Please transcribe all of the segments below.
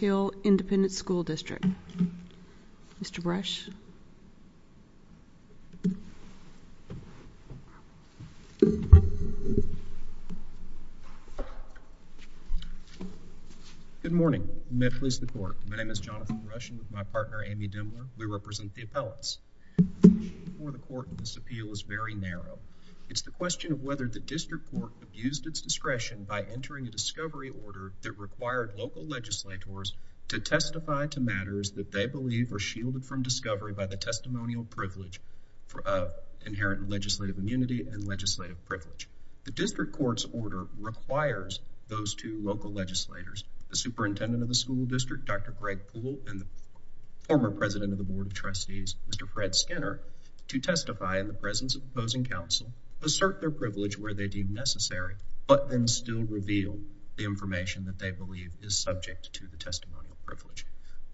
Barbers Hill Independent School District Mr. Brush Good morning, Met Police the Court My name is Jonathan Brush and with my partner Amy Dimmler We represent the appellants The question before the court in this appeal is very narrow It's the question of whether the district court used its discretion by entering a discovery order that required local legislators to testify to matters that they believe are shielded from discovery by the testimonial privilege of inherent legislative immunity and legislative privilege The district court's order requires those two local legislators the superintendent of the school district, Dr. Greg Poole and the former president of the board of trustees, Mr. Fred Skinner to testify in the presence of opposing counsel, assert their privilege where they deem necessary, but then still reveal the information that they believe is subject to the testimonial privilege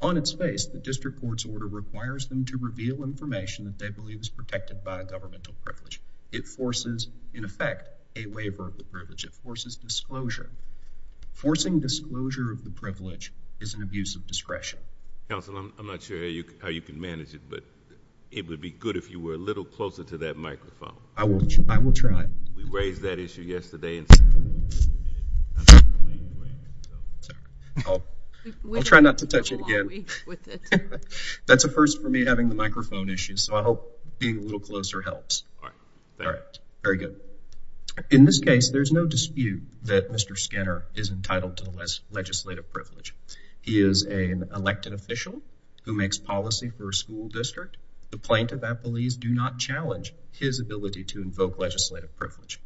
On its face the district court's order requires them to reveal information that they believe is protected by a governmental privilege It forces, in effect, a waiver of the privilege. It forces disclosure Forcing disclosure of the privilege is an abuse of discretion Counsel, I'm not sure how you can manage it, but it would be good if you were a little closer to that microphone I will try We raised that issue yesterday I'll try not to touch it again That's a first for me having the microphone issue so I hope being a little closer helps Alright, thank you In this case, there's no dispute that Mr. Skinner is entitled to the legislative privilege He is an elected official who makes policy for a school district The plaintiff at Belize do not challenge his ability to invoke legislative privilege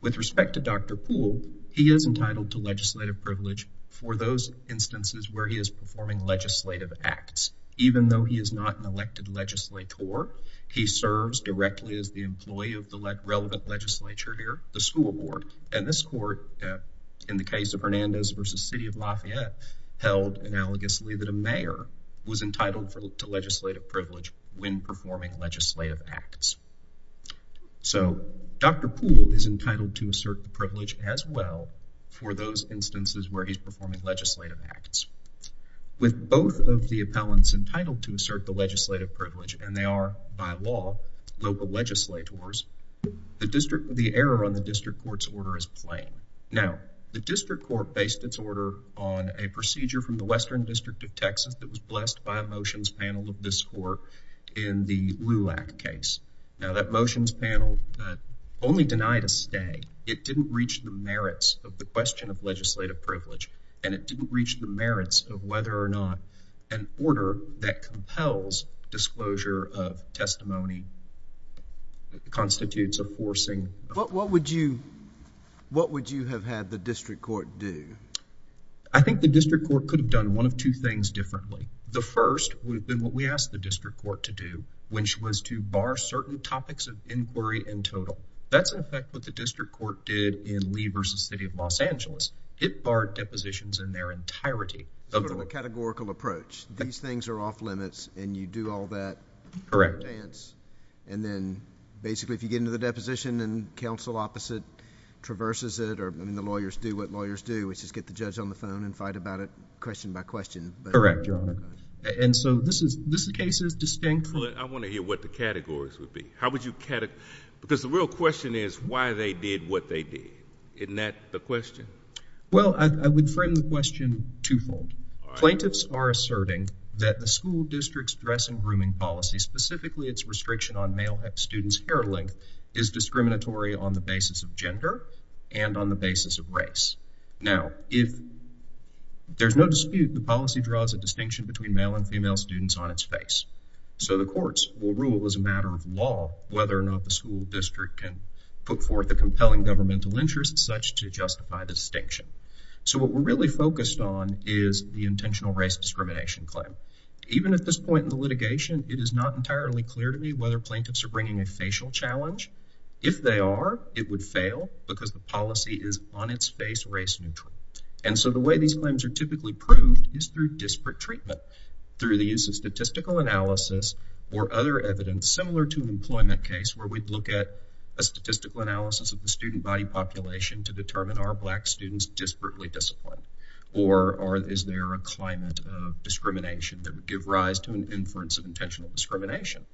With respect to the testimony with respect to Dr. Poole he is entitled to legislative privilege for those instances where he is performing legislative acts Even though he is not an elected legislator he serves directly as the employee of the relevant legislature here, the school board And this court, in the case of Hernandez v. City of Lafayette held analogously that a mayor was entitled to legislative privilege when performing legislative acts So Dr. Poole is entitled to assert the privilege as well for those instances where he's performing legislative acts With both of the appellants entitled to assert the legislative privilege and they are, by law, local legislators the error on the district court's order is plain Now, the district court based its order on a procedure from the Western District of Texas that was blessed by a motions panel of this court in the Lew Act case Now, that motions panel only denied a stay It didn't reach the merits of the question of legislative privilege and it didn't reach the merits of whether or not an order that compels disclosure of testimony constitutes a forcing What would you have had the district court do? I think the district court could have done one of two things differently The first would have been what we asked the district court to do, which was to bar certain topics of inquiry in total That's in effect what the district court did in Lee v. City of Los Angeles It barred depositions in their entirety A categorical approach. These things are off limits and you do all that and then basically if you get into the deposition and council opposite traverses it or the lawyers do what lawyers do which is get the judge on the phone and fight about it question by question Correct, your honor This case is distinct I want to hear what the categories would be Because the real question is why they did what they did Isn't that the question? Well, I would frame the question two-fold Plaintiffs are asserting that the school district's dress and grooming policy, specifically its restriction on male students' hair length is discriminatory on the basis of gender and on the basis of race Now, if there's no dispute the policy draws a distinction between male and female students on its face So the courts will rule as a matter of law whether or not the school district can put forth a compelling governmental interest such to justify the distinction So what we're really focused on is the intentional race discrimination claim. Even at this point in the litigation it is not entirely clear to me whether plaintiffs are bringing a facial challenge If they are, it would fail because the policy is on its face race-neutral And so the way these claims are typically proved is through disparate treatment through the use of statistical analysis or other evidence similar to an employment case where we'd look at a statistical analysis of the student body population to determine are black students disparately disciplined or is there a climate of discrimination that would give rise to an inference of intentional discrimination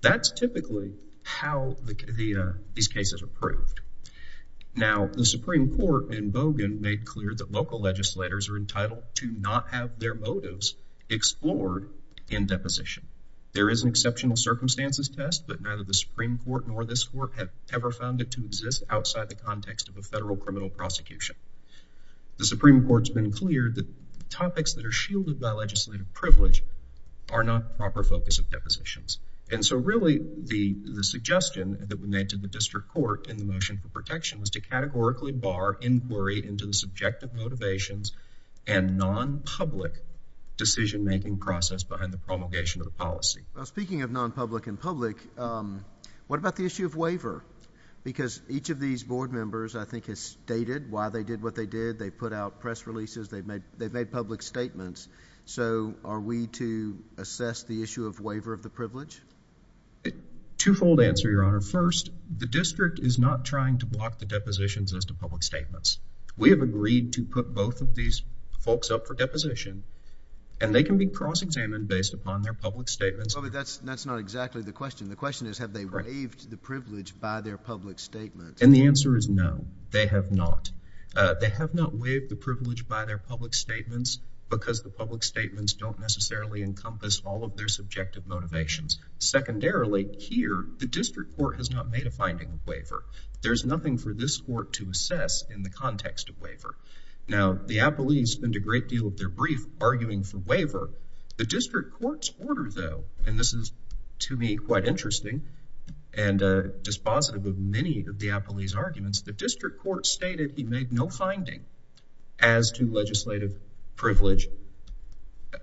That's typically how these cases are proved Now the Supreme Court in Bogan made clear that local legislators are entitled to not have their motives explored in deposition There is an exceptional circumstances test but neither the Supreme Court nor this court have ever found it to exist outside the context of a federal criminal prosecution The Supreme Court's been clear that topics that are shielded by legislative privilege are not the proper focus of depositions And so really the suggestion that was made to the district court in the motion for protection was to categorically bar inquiry into the subjective motivations and non-public decision making process behind the promulgation of the policy Speaking of non-public and public What about the issue of waiver? Because each of these board members I think has stated why they did what they did They put out press releases They've made public statements So are we to assess the issue of waiver of the privilege? Two-fold answer Your Honor. First, the district is not trying to block the depositions as to public statements. We have agreed to put both of these folks up for deposition and they can be cross-examined based upon their public statements But that's not exactly the question The question is have they waived the privilege by their public statements? And the answer is no. They have not They have not waived the privilege by their public statements because the public statements don't necessarily encompass all of their subjective motivations Secondarily, here, the district court has not made a finding of waiver There's nothing for this court to assess in the context of waiver Now, the Appellees spend a great deal of their brief arguing for waiver The district court's order, though and this is, to me, quite interesting and dispositive of many of the Appellee's arguments The district court stated they made no finding as to legislative privilege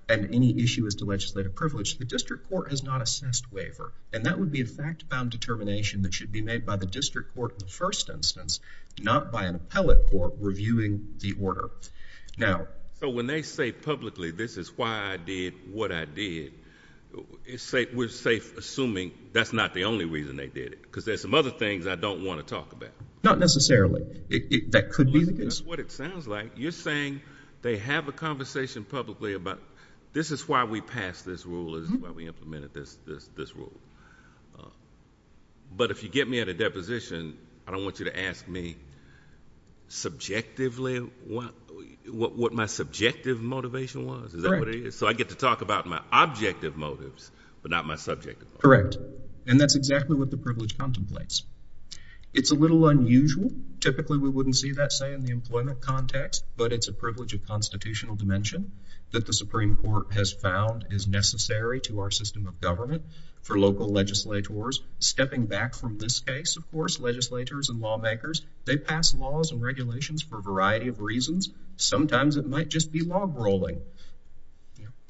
and any issue as to legislative privilege. The district court has not assessed waiver and that would be a fact-bound determination that should be made by the district court in the first instance not by an appellate court reviewing the order So when they say publicly, this is why I did what I did we're safe assuming that's not the only reason they did it because there's some other things I don't want to talk about Not necessarily That could be the case It sounds like you're saying they have a conversation publicly about this is why we passed this rule this is why we implemented this rule But if you get me at a deposition, I don't want you to ask me subjectively what my subjective motivation was Is that what it is? So I get to talk about my objective motives, but not my subjective motives. Correct. And that's exactly what the privilege contemplates It's a little unusual Typically we wouldn't see that, say, in the employment context, but it's a privilege of constitutional dimension that the Supreme Court has found is necessary to our system of government for local legislators. Stepping back from this case, of course, legislators and lawmakers, they pass laws and regulations for a variety of reasons Sometimes it might just be logrolling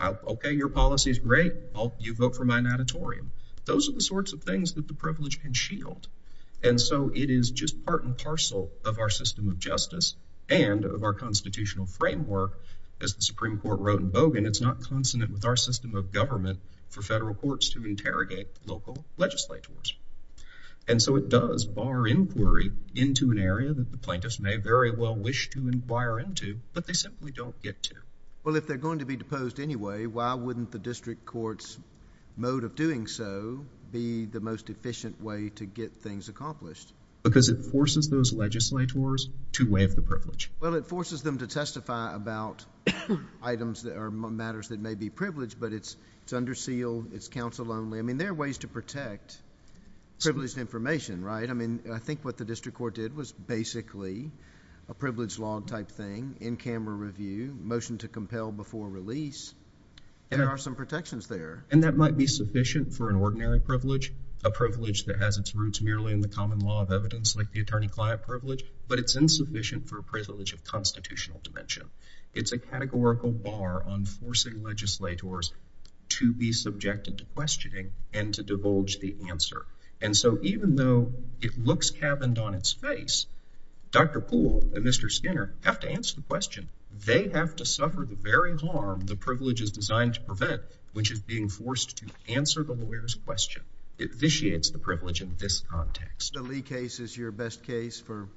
Okay, for my notatorium. Those are the sorts of things that the privilege can shield And so it is just part and parcel of our system of justice and of our constitutional framework As the Supreme Court wrote in Bogan, it's not consonant with our system of government for federal courts to interrogate local legislators And so it does bar inquiry into an area that the plaintiffs may very well wish to inquire into, but they simply don't get to Well, if they're going to be deposed anyway, why wouldn't the district court's mode of doing so be the most efficient way to get things accomplished? Because it forces those legislators to waive the privilege Well, it forces them to testify about items that are matters that may be privileged, but it's under seal, it's counsel only I mean, there are ways to protect privileged information, right? I mean, I think what the district court did was basically a privilege law type thing in camera review, motion to compel before release There are some protections there. And that might be a privilege that has its roots merely in the common law of evidence, like the attorney-client privilege, but it's insufficient for a privilege of constitutional dimension It's a categorical bar on forcing legislators to be subjected to questioning and to divulge the answer And so even though it looks caverned on its face, Dr. Poole and Mr. Skinner have to answer the question. They have to suffer the very harm the privilege is designed to prevent, which is being forced to answer the lawyer's question It vitiates the privilege in this context The Lee case is your best case for...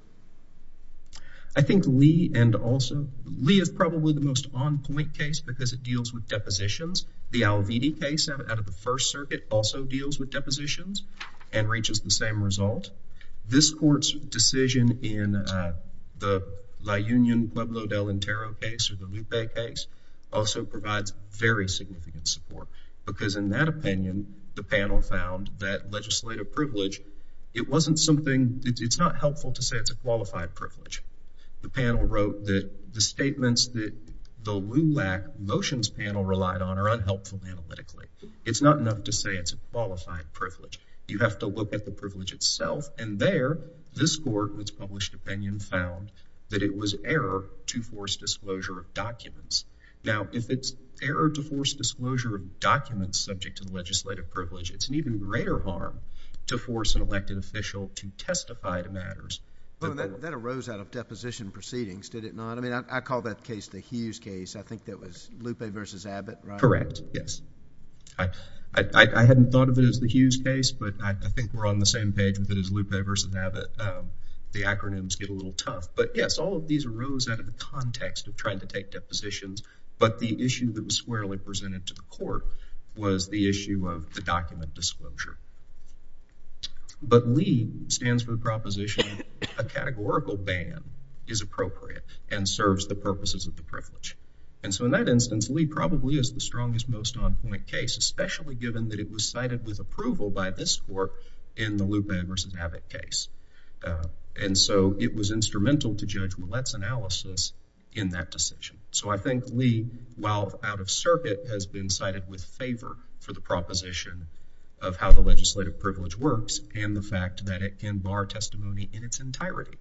I think Lee and also Lee is probably the most on-point case because it deals with depositions The Al-Vidi case out of the First Circuit also deals with depositions and reaches the same result This court's decision in the La Union Pueblo del Intero case, or the Lupe case, also provides very significant support because in that opinion, the panel found that legislative privilege it wasn't something... it's not helpful to say it's a qualified privilege The panel wrote that the statements that the LULAC motions panel relied on are unhelpful analytically. It's not enough to say it's a qualified privilege You have to look at the privilege itself and there, this court, in its published opinion, found that it was error to force disclosure of documents subject to the legislative privilege It's an even greater harm to force an elected official to testify to matters... That arose out of deposition proceedings, did it not? I mean, I call that case the Hughes case I think that was Lupe v. Abbott, right? Correct, yes I hadn't thought of it as the Hughes case but I think we're on the same page with it as Lupe v. Abbott The acronyms get a little tough But yes, all of these arose out of the context of trying to take depositions But the issue that was squarely presented to the court was the issue of the document disclosure But LEAD stands for the proposition a categorical ban is appropriate and serves the purposes of the privilege And so in that instance, LEAD probably is the strongest, most on-point case especially given that it was cited with approval by this court in the Lupe v. Abbott case And so it was instrumental to Judge Millett's analysis in that decision So I think LEAD, while out of circuit, has been cited with favor for the proposition of how the legislative privilege works and the fact that it can bar testimony in its entirety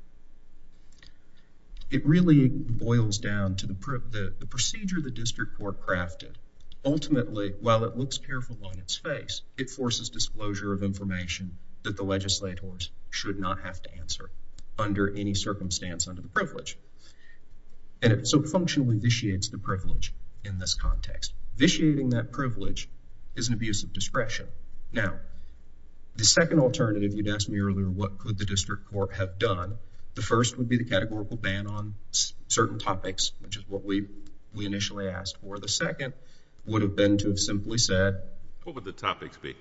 It really boils down to the procedure the district court crafted Ultimately, while it looks careful on its face, it forces disclosure of information that the legislators should not have to answer under any circumstance under the privilege And so it functionally vitiates the privilege in this context. Vitiating that privilege is an abuse of discretion Now, the second alternative you'd asked me earlier what could the district court have done The first would be the categorical ban on certain topics, which is what we initially asked for. The second would have been to have simply said What would the topics be?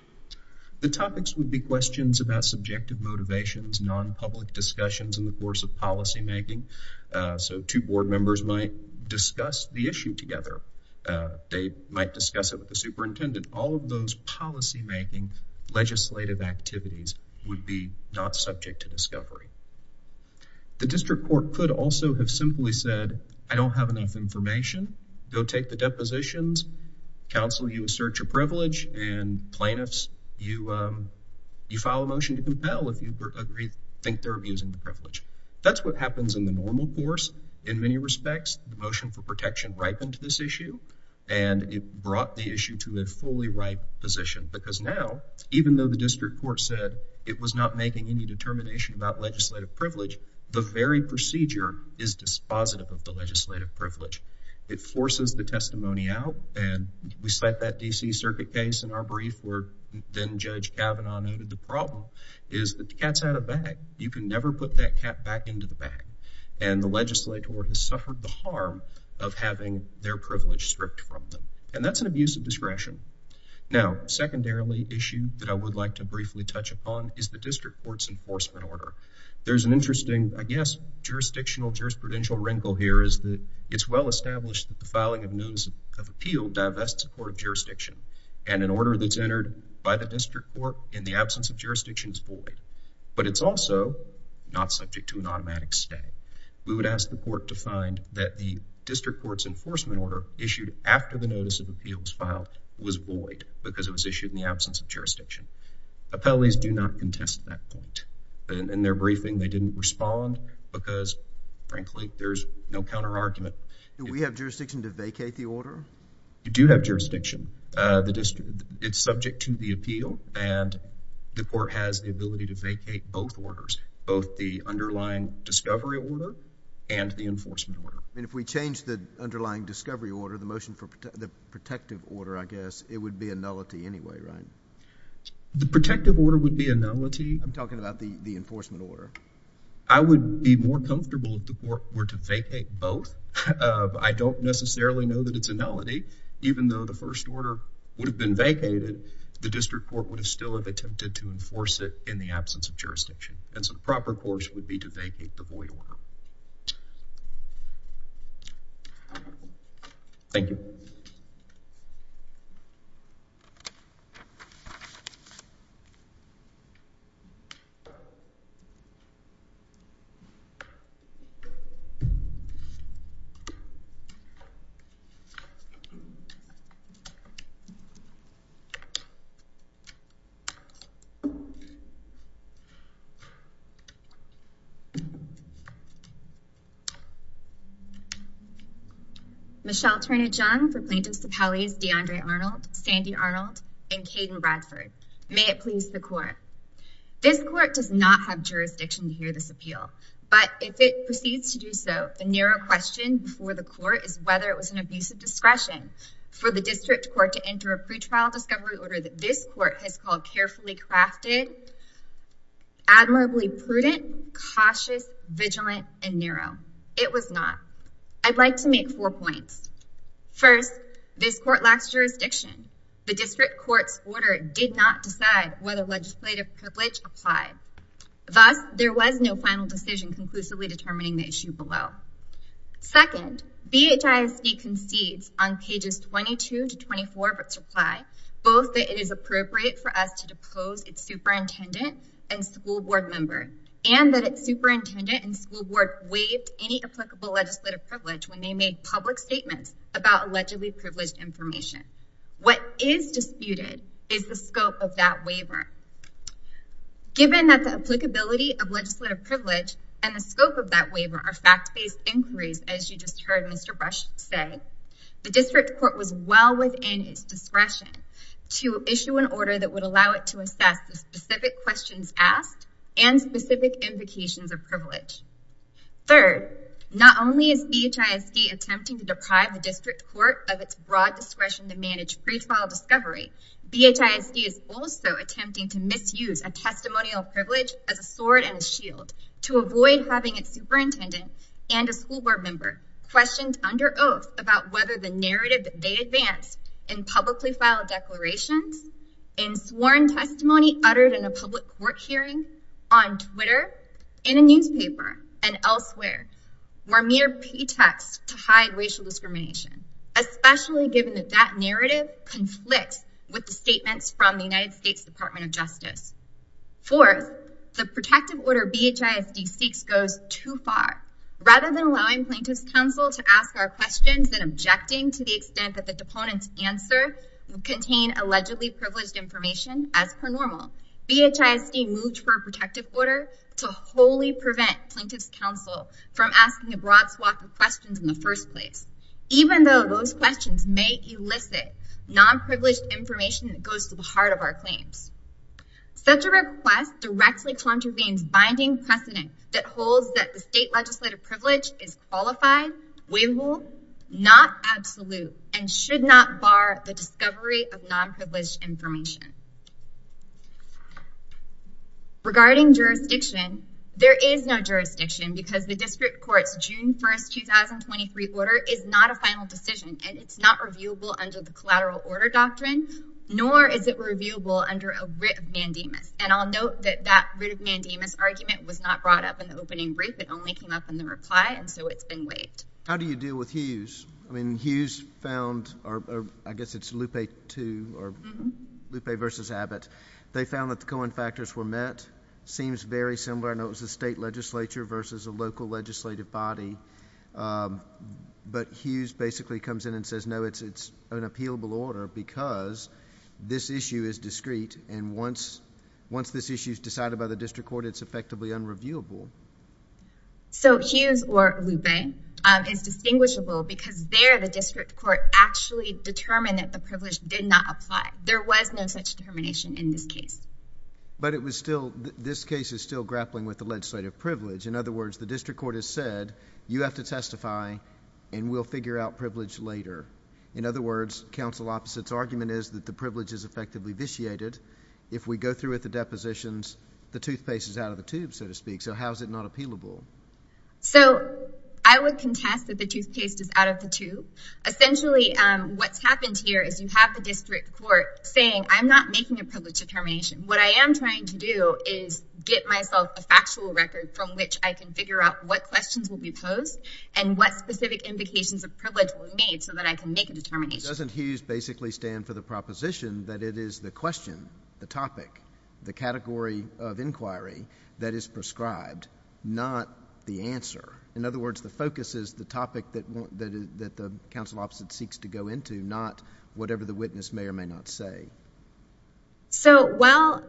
The topics would be questions about subjective motivations, non-public discussions in the course of policymaking So two board members might discuss the issue together They might discuss it with the superintendent. All of those policymaking legislative activities would be not subject to discovery The district court could also have simply said, I don't have enough information Go take the depositions Counsel you assert your privilege and plaintiffs you file a motion to compel if you think they're abusing the privilege. That's what happens in the normal course in many respects. The motion for protection ripened this issue and it brought the issue to a fully ripe position because now, even though the district court said it was not making any determination about legislative privilege the very procedure is dispositive of the legislative privilege It forces the testimony out and we cite that and then Judge Kavanaugh noted the problem is that the cat's out of bag You can never put that cat back into the bag and the legislator has suffered the harm of having their privilege stripped from them and that's an abuse of discretion Now, secondarily, the issue that I would like to briefly touch upon is the district court's enforcement order. There's an interesting I guess jurisdictional jurisprudential wrinkle here is that it's well established that the filing of notice of appeal divests the court of jurisdiction and an order that's entered by the district court in the absence of jurisdiction is void, but it's also not subject to an automatic stay. We would ask the court to find that the district court's enforcement order issued after the notice of appeal was filed was void because it was issued in the absence of jurisdiction Appellees do not contest that point In their briefing, they didn't respond because, frankly there's no counter argument Do we have jurisdiction to vacate the order? You do have jurisdiction It's subject to the appeal and the court has the ability to vacate both orders both the underlying discovery order and the enforcement order. And if we change the underlying discovery order, the motion for the protective order, I guess, it would be a nullity anyway, right? The protective order would be a nullity I'm talking about the enforcement order I would be more comfortable if the court were to vacate both I don't necessarily know that it's a nullity, even though the first order would have been vacated the district court would still have attempted to enforce it in the absence of jurisdiction And so the proper course would be to vacate the void order Thank you Thank you Michelle Turner Jung DeAndre Arnold Sandy Arnold May it please the court This court does not have jurisdiction to hear this appeal, but if it was an abuse of discretion for the district court to enter a pretrial discovery order that this court has called carefully crafted admirably prudent cautious, vigilant and narrow. It was not I'd like to make four points First, this court lacks jurisdiction. The district court's order did not decide whether legislative privilege applied Thus, there was no final decision conclusively determining the issue below Second, BHISD concedes on pages 22 to 24 of its reply both that it is appropriate for us to depose its superintendent and school board member and that its superintendent and school board waived any applicable legislative privilege when they made public statements about allegedly privileged information What is disputed is the scope of that waiver Given that the applicability of legislative privilege and the scope of that waiver are fact-based inquiries as you just heard Mr. Brush say, the district court was well within its discretion to issue an order that would allow it to assess the specific questions asked and specific implications of privilege Third, not only is BHISD attempting to deprive the district court of its broad discretion to manage pretrial discovery BHISD is also attempting to misuse a testimonial privilege as a sword and a shield to avoid having its superintendent and a school board member questioned under oath about whether the narrative they advanced in publicly filed declarations, in sworn testimony uttered in a public court hearing, on Twitter in a newspaper, and elsewhere were mere pretext to hide racial discrimination especially given that that narrative conflicts with the statements from the United States Department of Justice Fourth, the protective order BHISD seeks goes too far. Rather than allowing plaintiff's counsel to ask our questions and objecting to the extent that the deponent's answer would contain allegedly privileged information as per normal, BHISD moved for a protective order to wholly prevent plaintiff's counsel from asking a broad swath of questions in the first place, even though those questions may elicit non-privileged information that goes to the heart of our claims. Such a request directly contravenes binding precedent that holds that the state legislative privilege is qualified, waivable, not absolute, and should not bar the discovery of non-privileged information. Regarding jurisdiction, there is no jurisdiction because the district court's June 1st, 2023 order is not a final decision and it's not reviewable under the collateral order doctrine, nor is it reviewable under a writ of mandamus. And I'll note that that writ of mandamus argument was not brought up in the opening brief, it only came up in the reply, and so it's been waived. How do you deal with Hughes? I mean, Hughes found, or I guess it's Lupe too, or Lupe versus Abbott, they found that the Cohen factors were met, seems very similar, I know it was a state legislature versus a local legislative body, but Hughes basically comes in and says no, it's an appealable order because this issue is discrete and once this issue is decided by the district court, it's effectively unreviewable. So Hughes or Lupe is distinguishable because there the district court actually determined that the privilege did not apply. There was no such determination in this case. But it was still, privilege. In other words, the district court has said you have to testify and we'll figure out privilege later. In other words, counsel opposite's argument is that the privilege is effectively vitiated if we go through with the depositions, the toothpaste is out of the tube, so to speak. So how is it not appealable? So, I would contest that the toothpaste is out of the tube. Essentially, what's happened here is you have the district court saying I'm not making a privilege determination. What I am trying to do is get myself a factual record from which I can figure out what questions will be posed and what specific indications of privilege were made so that I can make a determination. Doesn't Hughes basically stand for the proposition that it is the question, the topic, the category of inquiry that is prescribed, not the answer. In other words, the focus is the topic that the counsel opposite seeks to go into, not whatever the witness may or may not say. So, well,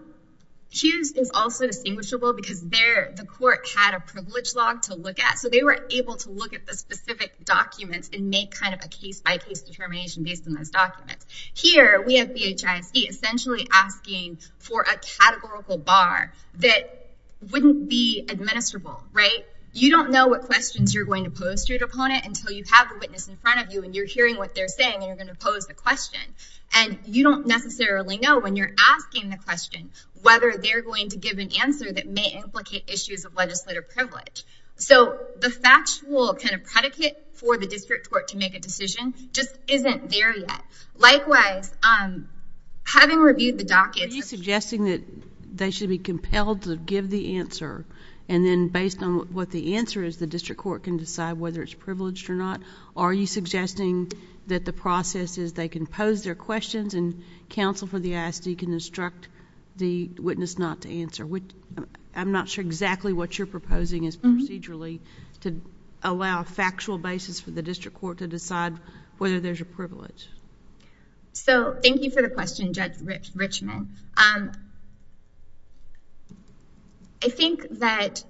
Hughes is also distinguishable because there the court had a privilege log to look at, so they were able to look at the specific documents and make kind of a case by case determination based on those documents. Here, we have BHISC essentially asking for a categorical bar that wouldn't be administrable, right? You don't know what questions you're going to pose to your opponent until you have the witness in front of you and you're hearing what they're saying and you're going to pose the question. And you don't necessarily know when you're asking the question whether they're going to give an answer that may implicate issues of legislative privilege. So the factual kind of predicate for the district court to make a decision just isn't there yet. Likewise, having reviewed the docket... Are you suggesting that they should be compelled to give the answer and then based on what the answer is, the district court can decide whether it's privileged or not? Are you suggesting that the process is they can pose their questions and counsel for the ISD can instruct the witness not to answer? I'm not sure exactly what you're proposing is procedurally to allow a factual basis for the district court to decide whether there's a privilege. So thank you for the question Judge Richmond. I think that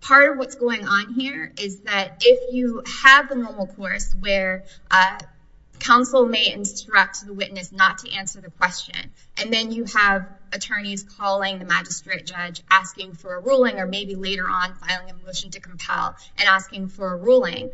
part of what's going on here is that if you have the normal course where counsel may instruct the witness not to answer the question and then you have attorneys calling the magistrate judge asking for a ruling or maybe later on filing a motion to compel and asking for a ruling,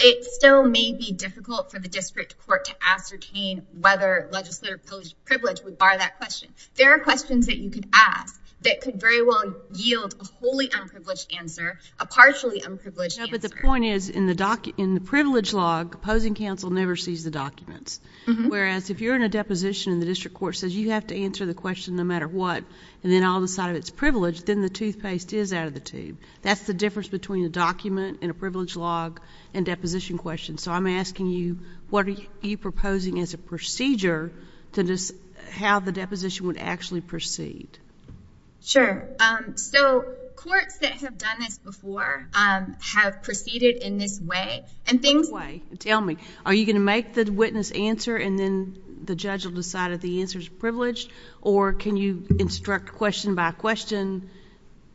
it still may be difficult for the district court to ascertain whether legislative privilege would bar that question. There are questions that you could ask that could very well yield a wholly unprivileged answer, a partially unprivileged answer. No, but the point is in the privilege law, opposing counsel never sees the documents. Whereas if you're in a deposition and the district court says you have to answer the question no matter what and then I'll decide if it's privileged, then the toothpaste is out of the tube. That's the difference between a document and a privilege log and deposition questions. So I'm asking you what are you proposing as a procedure to how the deposition would actually proceed? Sure. So courts that have done this before have proceeded in this way. Tell me, are you going to make the witness answer and then the judge will decide if the answer is privileged or can you instruct question by question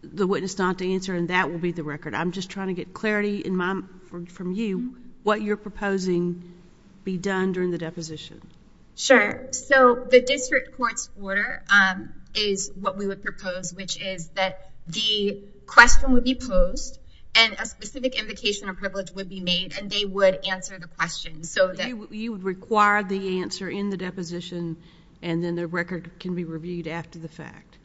the witness not to answer and that will be the record. I'm just trying to get clarity from you what you're proposing be done during the deposition. Sure. So the district court's propose, which is that the question would be posed and a specific indication of privilege would be made and they would answer the question. So you would require the answer in the deposition and then the record can be reviewed after the fact.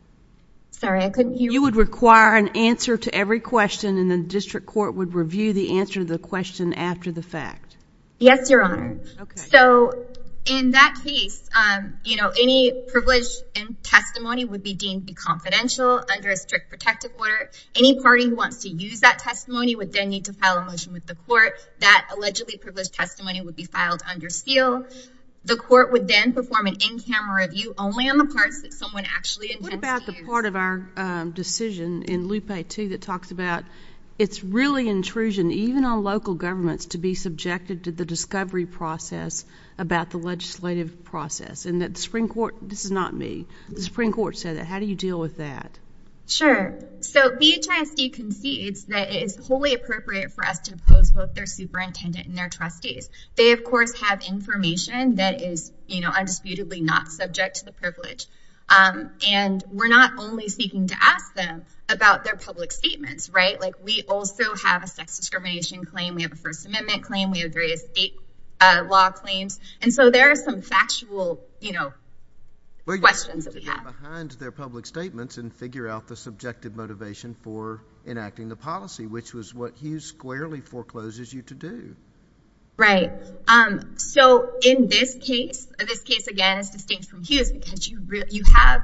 You would require an answer to every question and the district court would review the answer to the question after the fact. Yes, your honor. So in that case any privilege in testimony would be deemed confidential under a strict protective order. Any party who wants to use that testimony would then need to file a motion with the court. That allegedly privileged testimony would be filed under steel. The court would then perform an in-camera review only on the parts that someone actually intended to use. What about the part of our decision in Lupe 2 that talks about it's really intrusion even on local governments to be subjected to the discovery process about the legislative process and that the Supreme Court, this is not me, the Supreme Court said that. How do you deal with that? Sure. So BHISD concedes that it is wholly appropriate for us to oppose both their superintendent and their trustees. They, of course, have information that is, you know, undisputedly not subject to the privilege. And we're not only speaking to ask them about their public statements, right? Like we also have a sex discrimination claim, we have a First Amendment claim, we have various state law claims. And so there are some factual, you know, questions that we have. Well, you have to get behind their public statements and figure out the subjective motivation for enacting the policy, which was what Hughes squarely forecloses you to do. Right. So in this case, this case, again, is distinct from Hughes because you have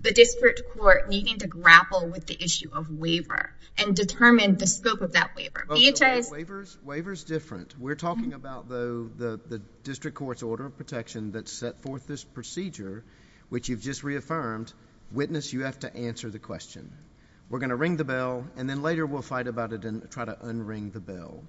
the district court needing to grapple with the issue of waiver and determine the scope of that waiver. BHIS... Waiver's different. We're talking about, though, the district court's order of protection that set forth this procedure, which you've just reaffirmed. Witness, you have to answer the question. We're going to ring the bell, and then later we'll fight about it and try to unring the bell.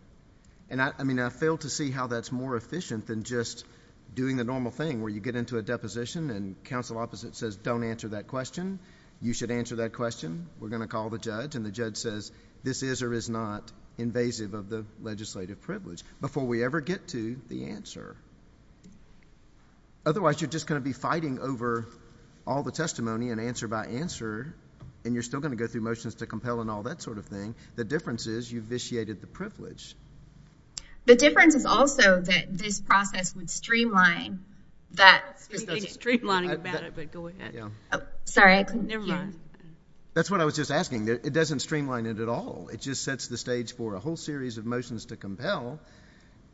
And I mean, I fail to see how that's more efficient than just doing the normal thing where you get into a deposition and counsel opposite says, don't answer that question. You should answer that question. We're going to call the judge, and the judge says, this is or is not invasive of the legislative privilege before we ever get to the answer. Otherwise, you're just going to be fighting over all the testimony and answer by answer, and you're still going to go through motions to compel and all that sort of thing. The difference is you've vitiated the privilege. The difference is also that this process would streamline that... Streamlining about it, but go ahead. Never mind. That's what I was just asking. It doesn't streamline it at all. It just sets the stage for a whole series of motions to compel,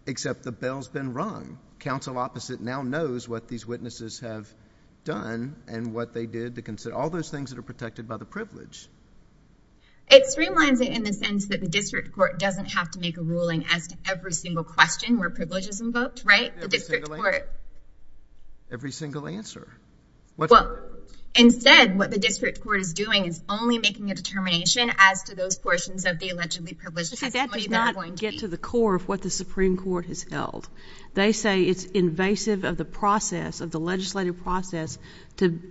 except the bell's been rung. Counsel opposite now knows what these witnesses have done and what they did to consider all those things that are protected by the privilege. It streamlines it in the sense that the district court doesn't have to make a ruling as to every single question where privilege is invoked, right? Every single answer. Well, instead, what the district court is doing is only making a determination as to those portions of the allegedly privileged testimony that are going to be... They say it's invasive of the process, of the legislative process, to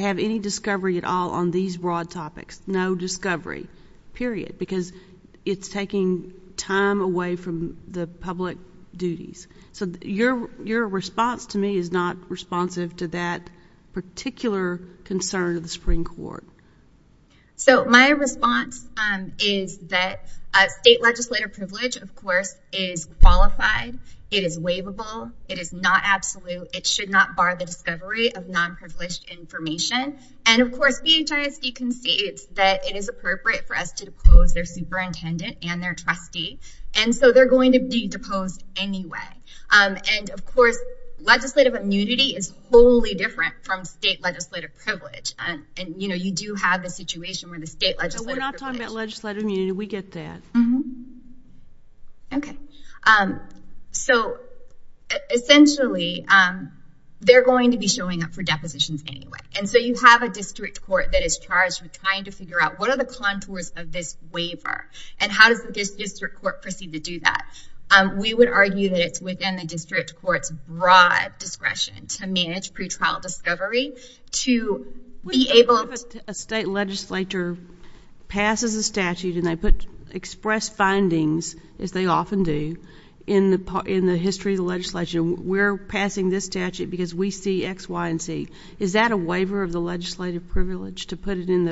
have any discovery at all on these broad topics. No discovery. Period. Because it's taking time away from the public duties. Your response to me is not responsive concern of the Supreme Court. My response is that state legislative privilege, of course, is qualified. It is waivable. It is not absolute. It should not bar the discovery of nonprivileged information. And, of course, BHSD concedes that it is appropriate for us to depose their superintendent and their trustee. And so they're going to be deposed anyway. And, of course, legislative immunity is wholly different from state legislative privilege. You do have the situation where the state legislative privilege... We're not talking about legislative immunity. We get that. Okay. So, essentially, they're going to be showing up for depositions anyway. And so you have a district court that is charged with trying to figure out what are the contours of this waiver and how does this district court proceed to do that. We would argue that it's within the district court's broad discretion to manage pretrial discovery, to be able... A state legislature passes a statute and they express findings, as they often do, in the history of the legislation. We're passing this statute because we see X, Y, and Z. Is that a waiver of the legislative privilege to put it in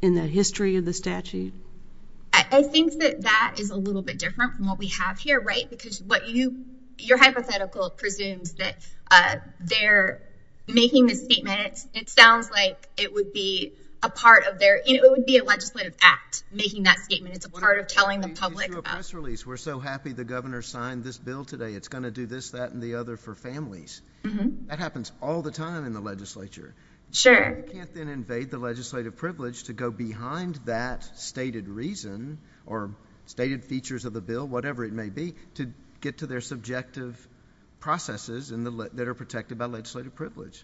the history of the statute? I think that that is a little bit different from what we have here, right? Because your hypothetical presumes that they're making this statement. It sounds like it would be a legislative act, making that statement. It's a part of telling the public. We're so happy the governor signed this bill today. It's going to do this, that, and the other for families. That happens all the time in the legislature. You can't then invade the legislative privilege to go behind that stated reason or stated features of the bill, whatever it may be, to get to their subjective processes that are protected by the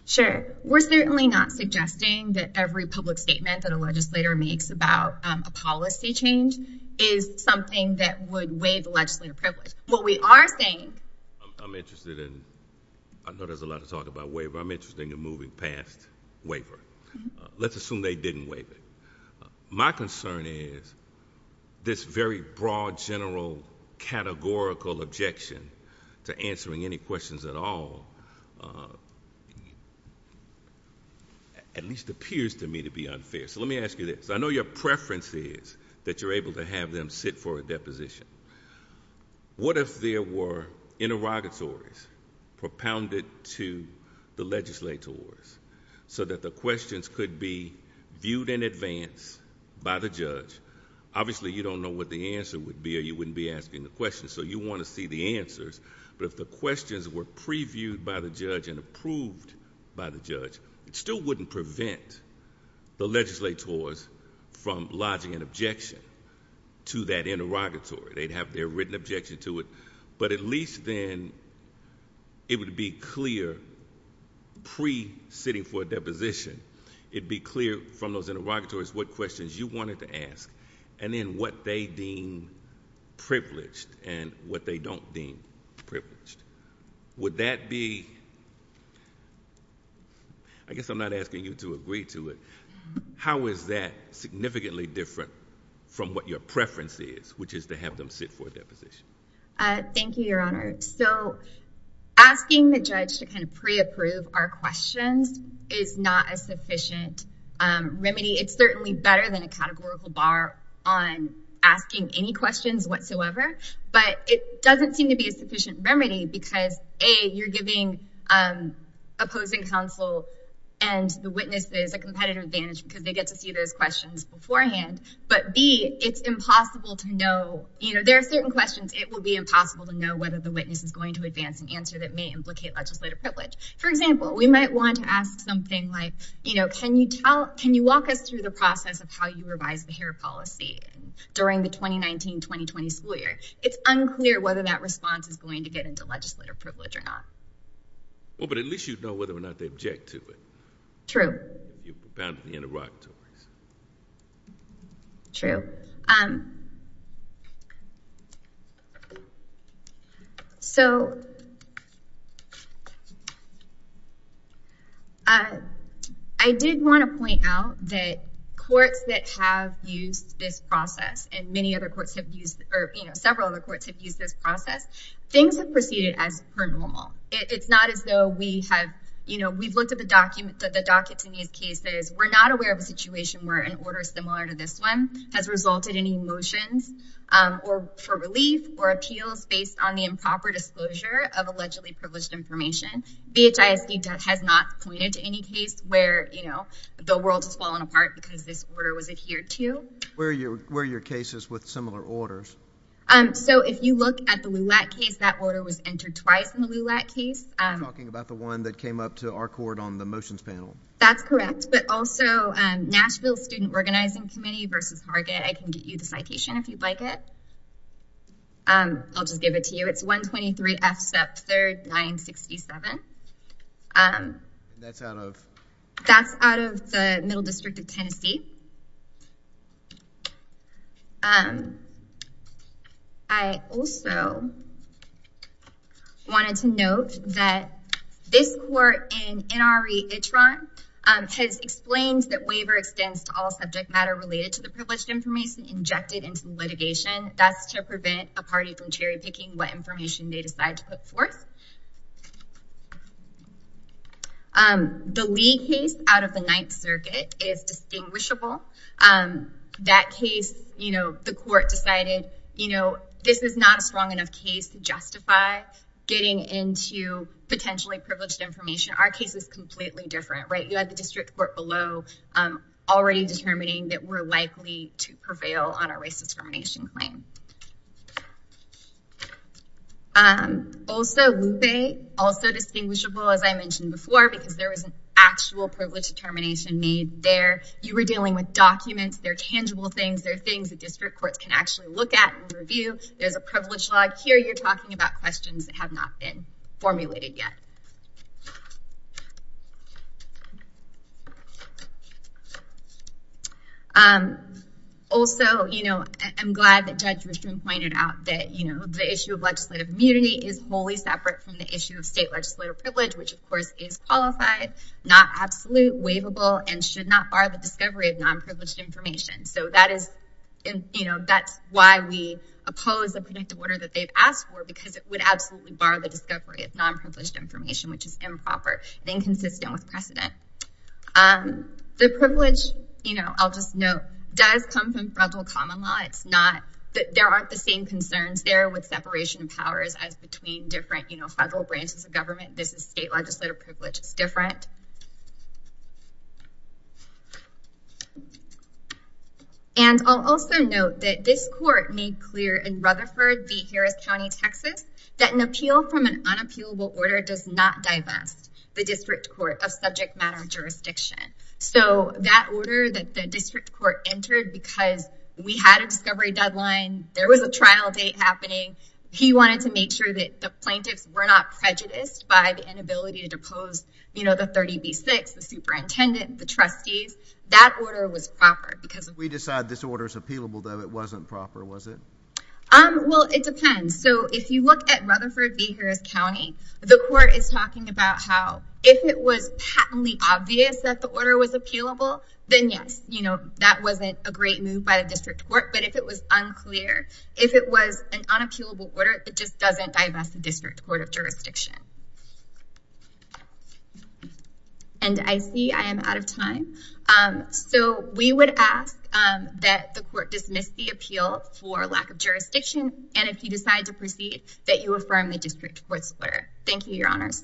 statute. I'm certainly not suggesting that every public statement that a legislator makes about a policy change is something that would waive the legislative privilege. What we are saying... I'm interested in... I know there's a lot of talk about waiver. I'm interested in moving past waiver. Let's assume they didn't waive it. My concern is this very broad, general, categorical objection to answering any questions at all at least appears to me to be unfair. Let me ask you this. I know your preference is that you're able to have them sit for a deposition. What if there were interrogatories propounded to the legislators so that the questions could be viewed in advance by the judge? Obviously, you don't know what the answer would be, or you wouldn't be asking the question, so you want to see the answers. If the questions were previewed by the judge and approved by the judge, it still wouldn't prevent the legislators from lodging an objection to that interrogatory. They'd have their written objection to it, but at least then it would be clear It'd be clear from those interrogatories what questions you wanted to ask and then what they deem privileged and what they don't deem privileged. Would that be I guess I'm not asking you to agree to it. How is that significantly different from what your preference is, which is to have them sit for a deposition? Thank you, Your Honor. Asking the judge to pre-approve our questions is not a sufficient remedy. It's certainly better than a categorical bar on asking any questions whatsoever, but it doesn't seem to be a sufficient remedy because, A, you're giving opposing counsel and the witnesses a competitive advantage because they get to see those questions beforehand, but B, it's impossible to know. There are certain questions it will be impossible to know whether the witness is going to advance an answer that may implicate legislative privilege. For example, we might want to ask something like can you walk us through the process of how you revise the hair policy during the 2019-2020 school year? It's unclear whether that response is going to get into legislative privilege or not. Well, but at least you'd know whether or not they object to it. True. You've apparently interrupted us. True. So I did want to point out that courts that have used this process, and many other courts have used, or several other courts have used this process, things have proceeded as per normal. It's not as though we've looked at the dockets in these cases. We're not aware of a situation where an order similar to this one has resulted in motions for relief or appeals based on the improper disclosure of allegedly privileged information. BHISD has not pointed to any case where the world has fallen apart because this order was adhered to. Where are your cases with similar orders? So if you look at the LULAC case, that order was entered twice in the LULAC case. You're talking about the one that came up to our court on the motions panel. That's correct, but also Nashville Student Organizing Committee v. Hargett. I can get you the citation if you'd like it. I'll just give it to you. It's 123 F. Sepp 3rd, 967. That's out of the Middle District of Tennessee. I also wanted to note that this court in NRE Itron has explained that waiver extends to all subject matter related to the privileged information injected into litigation. That's to prevent a party from cherry picking what party. The Lee case out of the Ninth Circuit is distinguishable. That case, the court decided this is not a strong enough case to justify getting into potentially privileged information. Our case is completely different. You have the district court below already determining that we're likely to prevail on a race discrimination claim. Also, Lupe, also distinguishable as I mentioned before because there was an actual privileged determination made there. You were dealing with documents. They're tangible things. They're things that district courts can actually look at and review. There's a privilege log. Here you're talking about questions that have not been formulated yet. Also, I'm glad that Judge pointed out that the issue of legislative immunity is wholly separate from the issue of state legislative privilege, which of course is qualified, not absolute, waivable, and should not bar the discovery of nonprivileged information. That's why we oppose the predictive order that they've asked for because it would absolutely bar the discovery of nonprivileged information, which is improper and inconsistent with precedent. The privilege, I'll just note, does come from federal common law. There aren't the same concerns there with separation of powers as between different federal branches of government. State legislative privilege is different. I'll also note that this court made clear in Rutherford v. Harris County, Texas that an appeal from an unappealable order does not divest the district court of subject matter jurisdiction. That order that the district court entered because we had a discovery deadline, there was a trial date happening, he wanted to make sure that the plaintiffs were not prejudiced by the inability to depose the 30B6, the superintendent, the trustees, that order was proper. We decide this order is appealable, though it wasn't proper, was it? It depends. If you look at Rutherford v. Harris County, the court is talking about how if it was patently obvious that the order was appealable, then yes, that wasn't a great move by the district court, but if it was unclear, if it was an unappealable order, it just doesn't divest the district court of jurisdiction. I see I am out of time. We would ask that the court dismiss the appeal for lack of jurisdiction, and if you decide to proceed, that you affirm the district court's order. Thank you, Your Honors.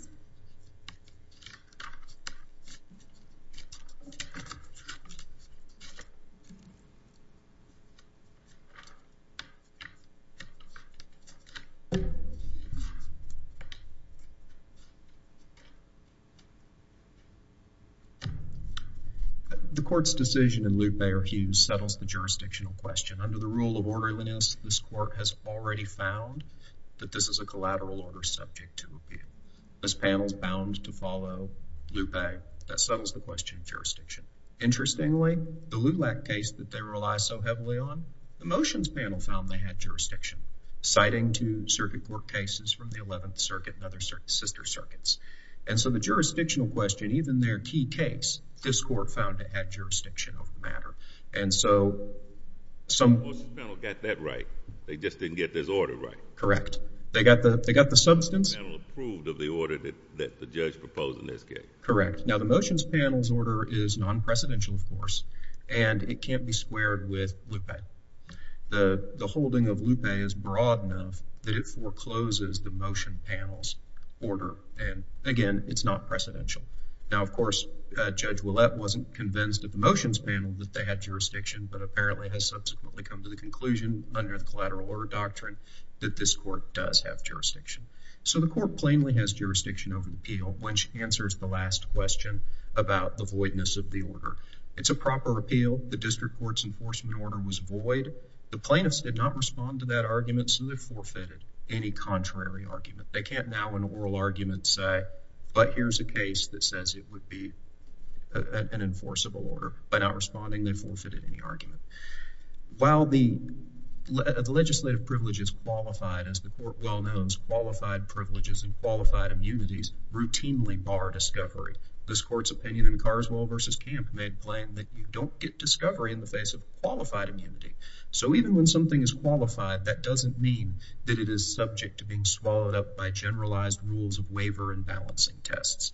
The court's decision in Luke-Bayer Hughes settles the jurisdictional question. Under the rule of orderliness, this court has already found that this is a collateral order subject to appeal. This panel is bound to follow Luke-Bayer. That settles the question of jurisdiction. Interestingly, the LULAC case that they rely so heavily on, the motions panel found they had jurisdiction, citing two circuit court cases from the 11th Circuit and other sister circuits. So the jurisdictional question, even their key case, this court found it had jurisdiction over the matter. The motions panel got that right. They just didn't get this order right. Correct. They got the substance approved of the order that the judge proposed in this case. The motions panel's order is non-precedential of course, and it can't be squared with Lupe. The holding of Lupe is broad enough that it forecloses the motion panel's order. Again, it's not precedential. Of course, Judge LULAC wasn't convinced of the motions panel that they had jurisdiction, but apparently they have subsequently come to the conclusion under the collateral order doctrine that this court does have jurisdiction. So the court plainly has jurisdiction over the appeal, which answers the last question about the voidness of the order. It's a proper appeal. The district court's enforcement order was void. The plaintiffs did not respond to that argument, so they forfeited any contrary argument. They can't now in oral arguments say, but here's a case that says it would be an enforceable order. By not responding, they forfeited any argument. While the legislative privilege is qualified, as the court well knows, qualified privileges and qualified immunities routinely bar discovery. This court's opinion in Carswell v. Camp made plain that you don't get discovery in the face of qualified immunity. So even when something is qualified, that doesn't mean that it is subject to being swallowed up by generalized rules of waiver and balancing tests.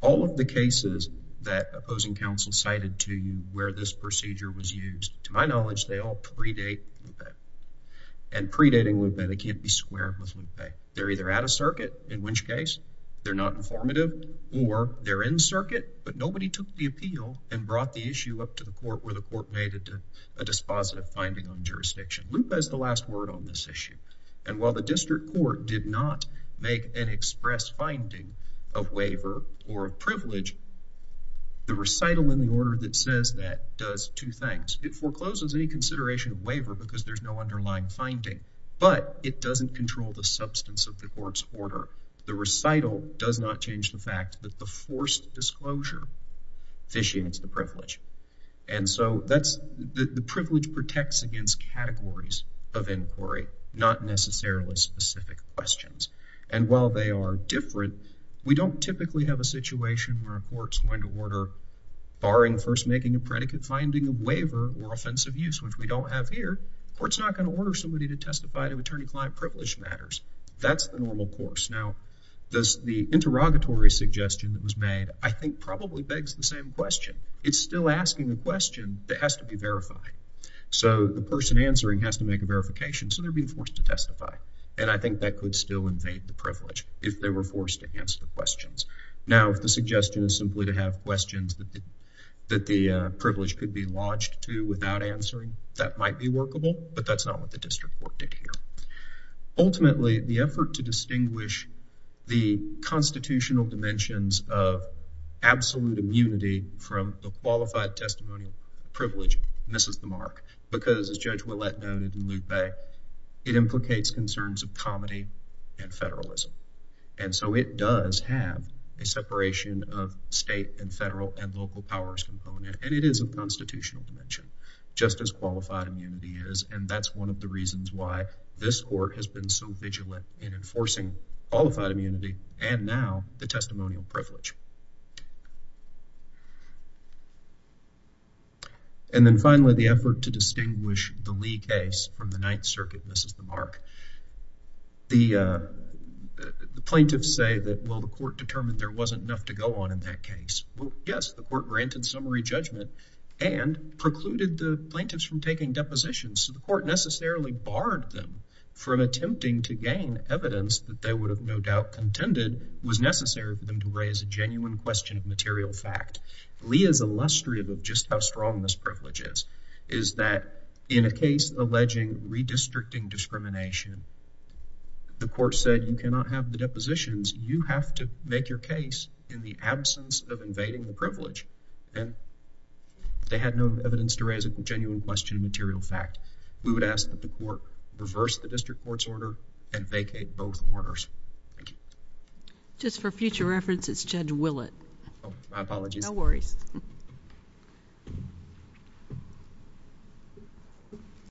All of the cases that opposing counsel cited to you where this procedure was used, to my knowledge, they all predate Lupe. And predating Lupe, they can't be squared with Lupe. They're either out of circuit, in which case they're not informative, or they're in circuit, but nobody took the appeal and brought the issue up to the court where the court made it a dispositive finding on jurisdiction. Lupe is the last word on this issue. And while the district court did not make an express finding of the recital in the order that says that does two things. It forecloses any consideration of waiver because there's no underlying finding, but it doesn't control the substance of the court's order. The recital does not change the fact that the forced disclosure fishions the privilege. And so the privilege protects against categories of inquiry, not necessarily specific questions. And while they are different, we don't typically have a situation where a court's going to order, barring first making a predicate finding of waiver or offensive use, which we don't have here, the court's not going to order somebody to testify to attorney-client privilege matters. That's the normal course. Now, the interrogatory suggestion that was made I think probably begs the same question. It's still asking a question that has to be verified. So the person answering has to make a verification, so they're being forced to testify. And I think that could still invade the privilege if they were forced to answer the questions. Now, if the suggestion is simply to have questions that the privilege could be lodged to without answering, that might be workable, but that's not what the district court did here. Ultimately, the effort to distinguish the constitutional dimensions of absolute immunity from a qualified testimonial privilege misses the mark, because as Judge Ouellette noted in Lupe, it implicates concerns of federalism. And so it does have a separation of state and federal and local powers component, and it is a constitutional dimension, just as qualified immunity is, and that's one of the reasons why this court has been so vigilant in enforcing qualified immunity and now the testimonial privilege. And then finally, the effort to distinguish the Lee case from the Ninth Circuit misses the mark. The plaintiffs say that, well, the court determined there wasn't enough to go on in that case. Well, yes, the court granted summary judgment and precluded the plaintiffs from taking depositions, so the court necessarily barred them from attempting to gain evidence that they would have no doubt contended was necessary for them to raise a genuine question of material fact. Lee is illustrative of just how strong this privilege is, is that in a case alleging redistricting discrimination, the court said you cannot have the depositions. You have to make your case in the absence of invading the privilege, and they had no evidence to raise a genuine question of material fact. We would ask that the court reverse the district court's order and vacate both orders. Thank you. Just for future reference, it's Judge Willett. Oh, my apologies. No worries.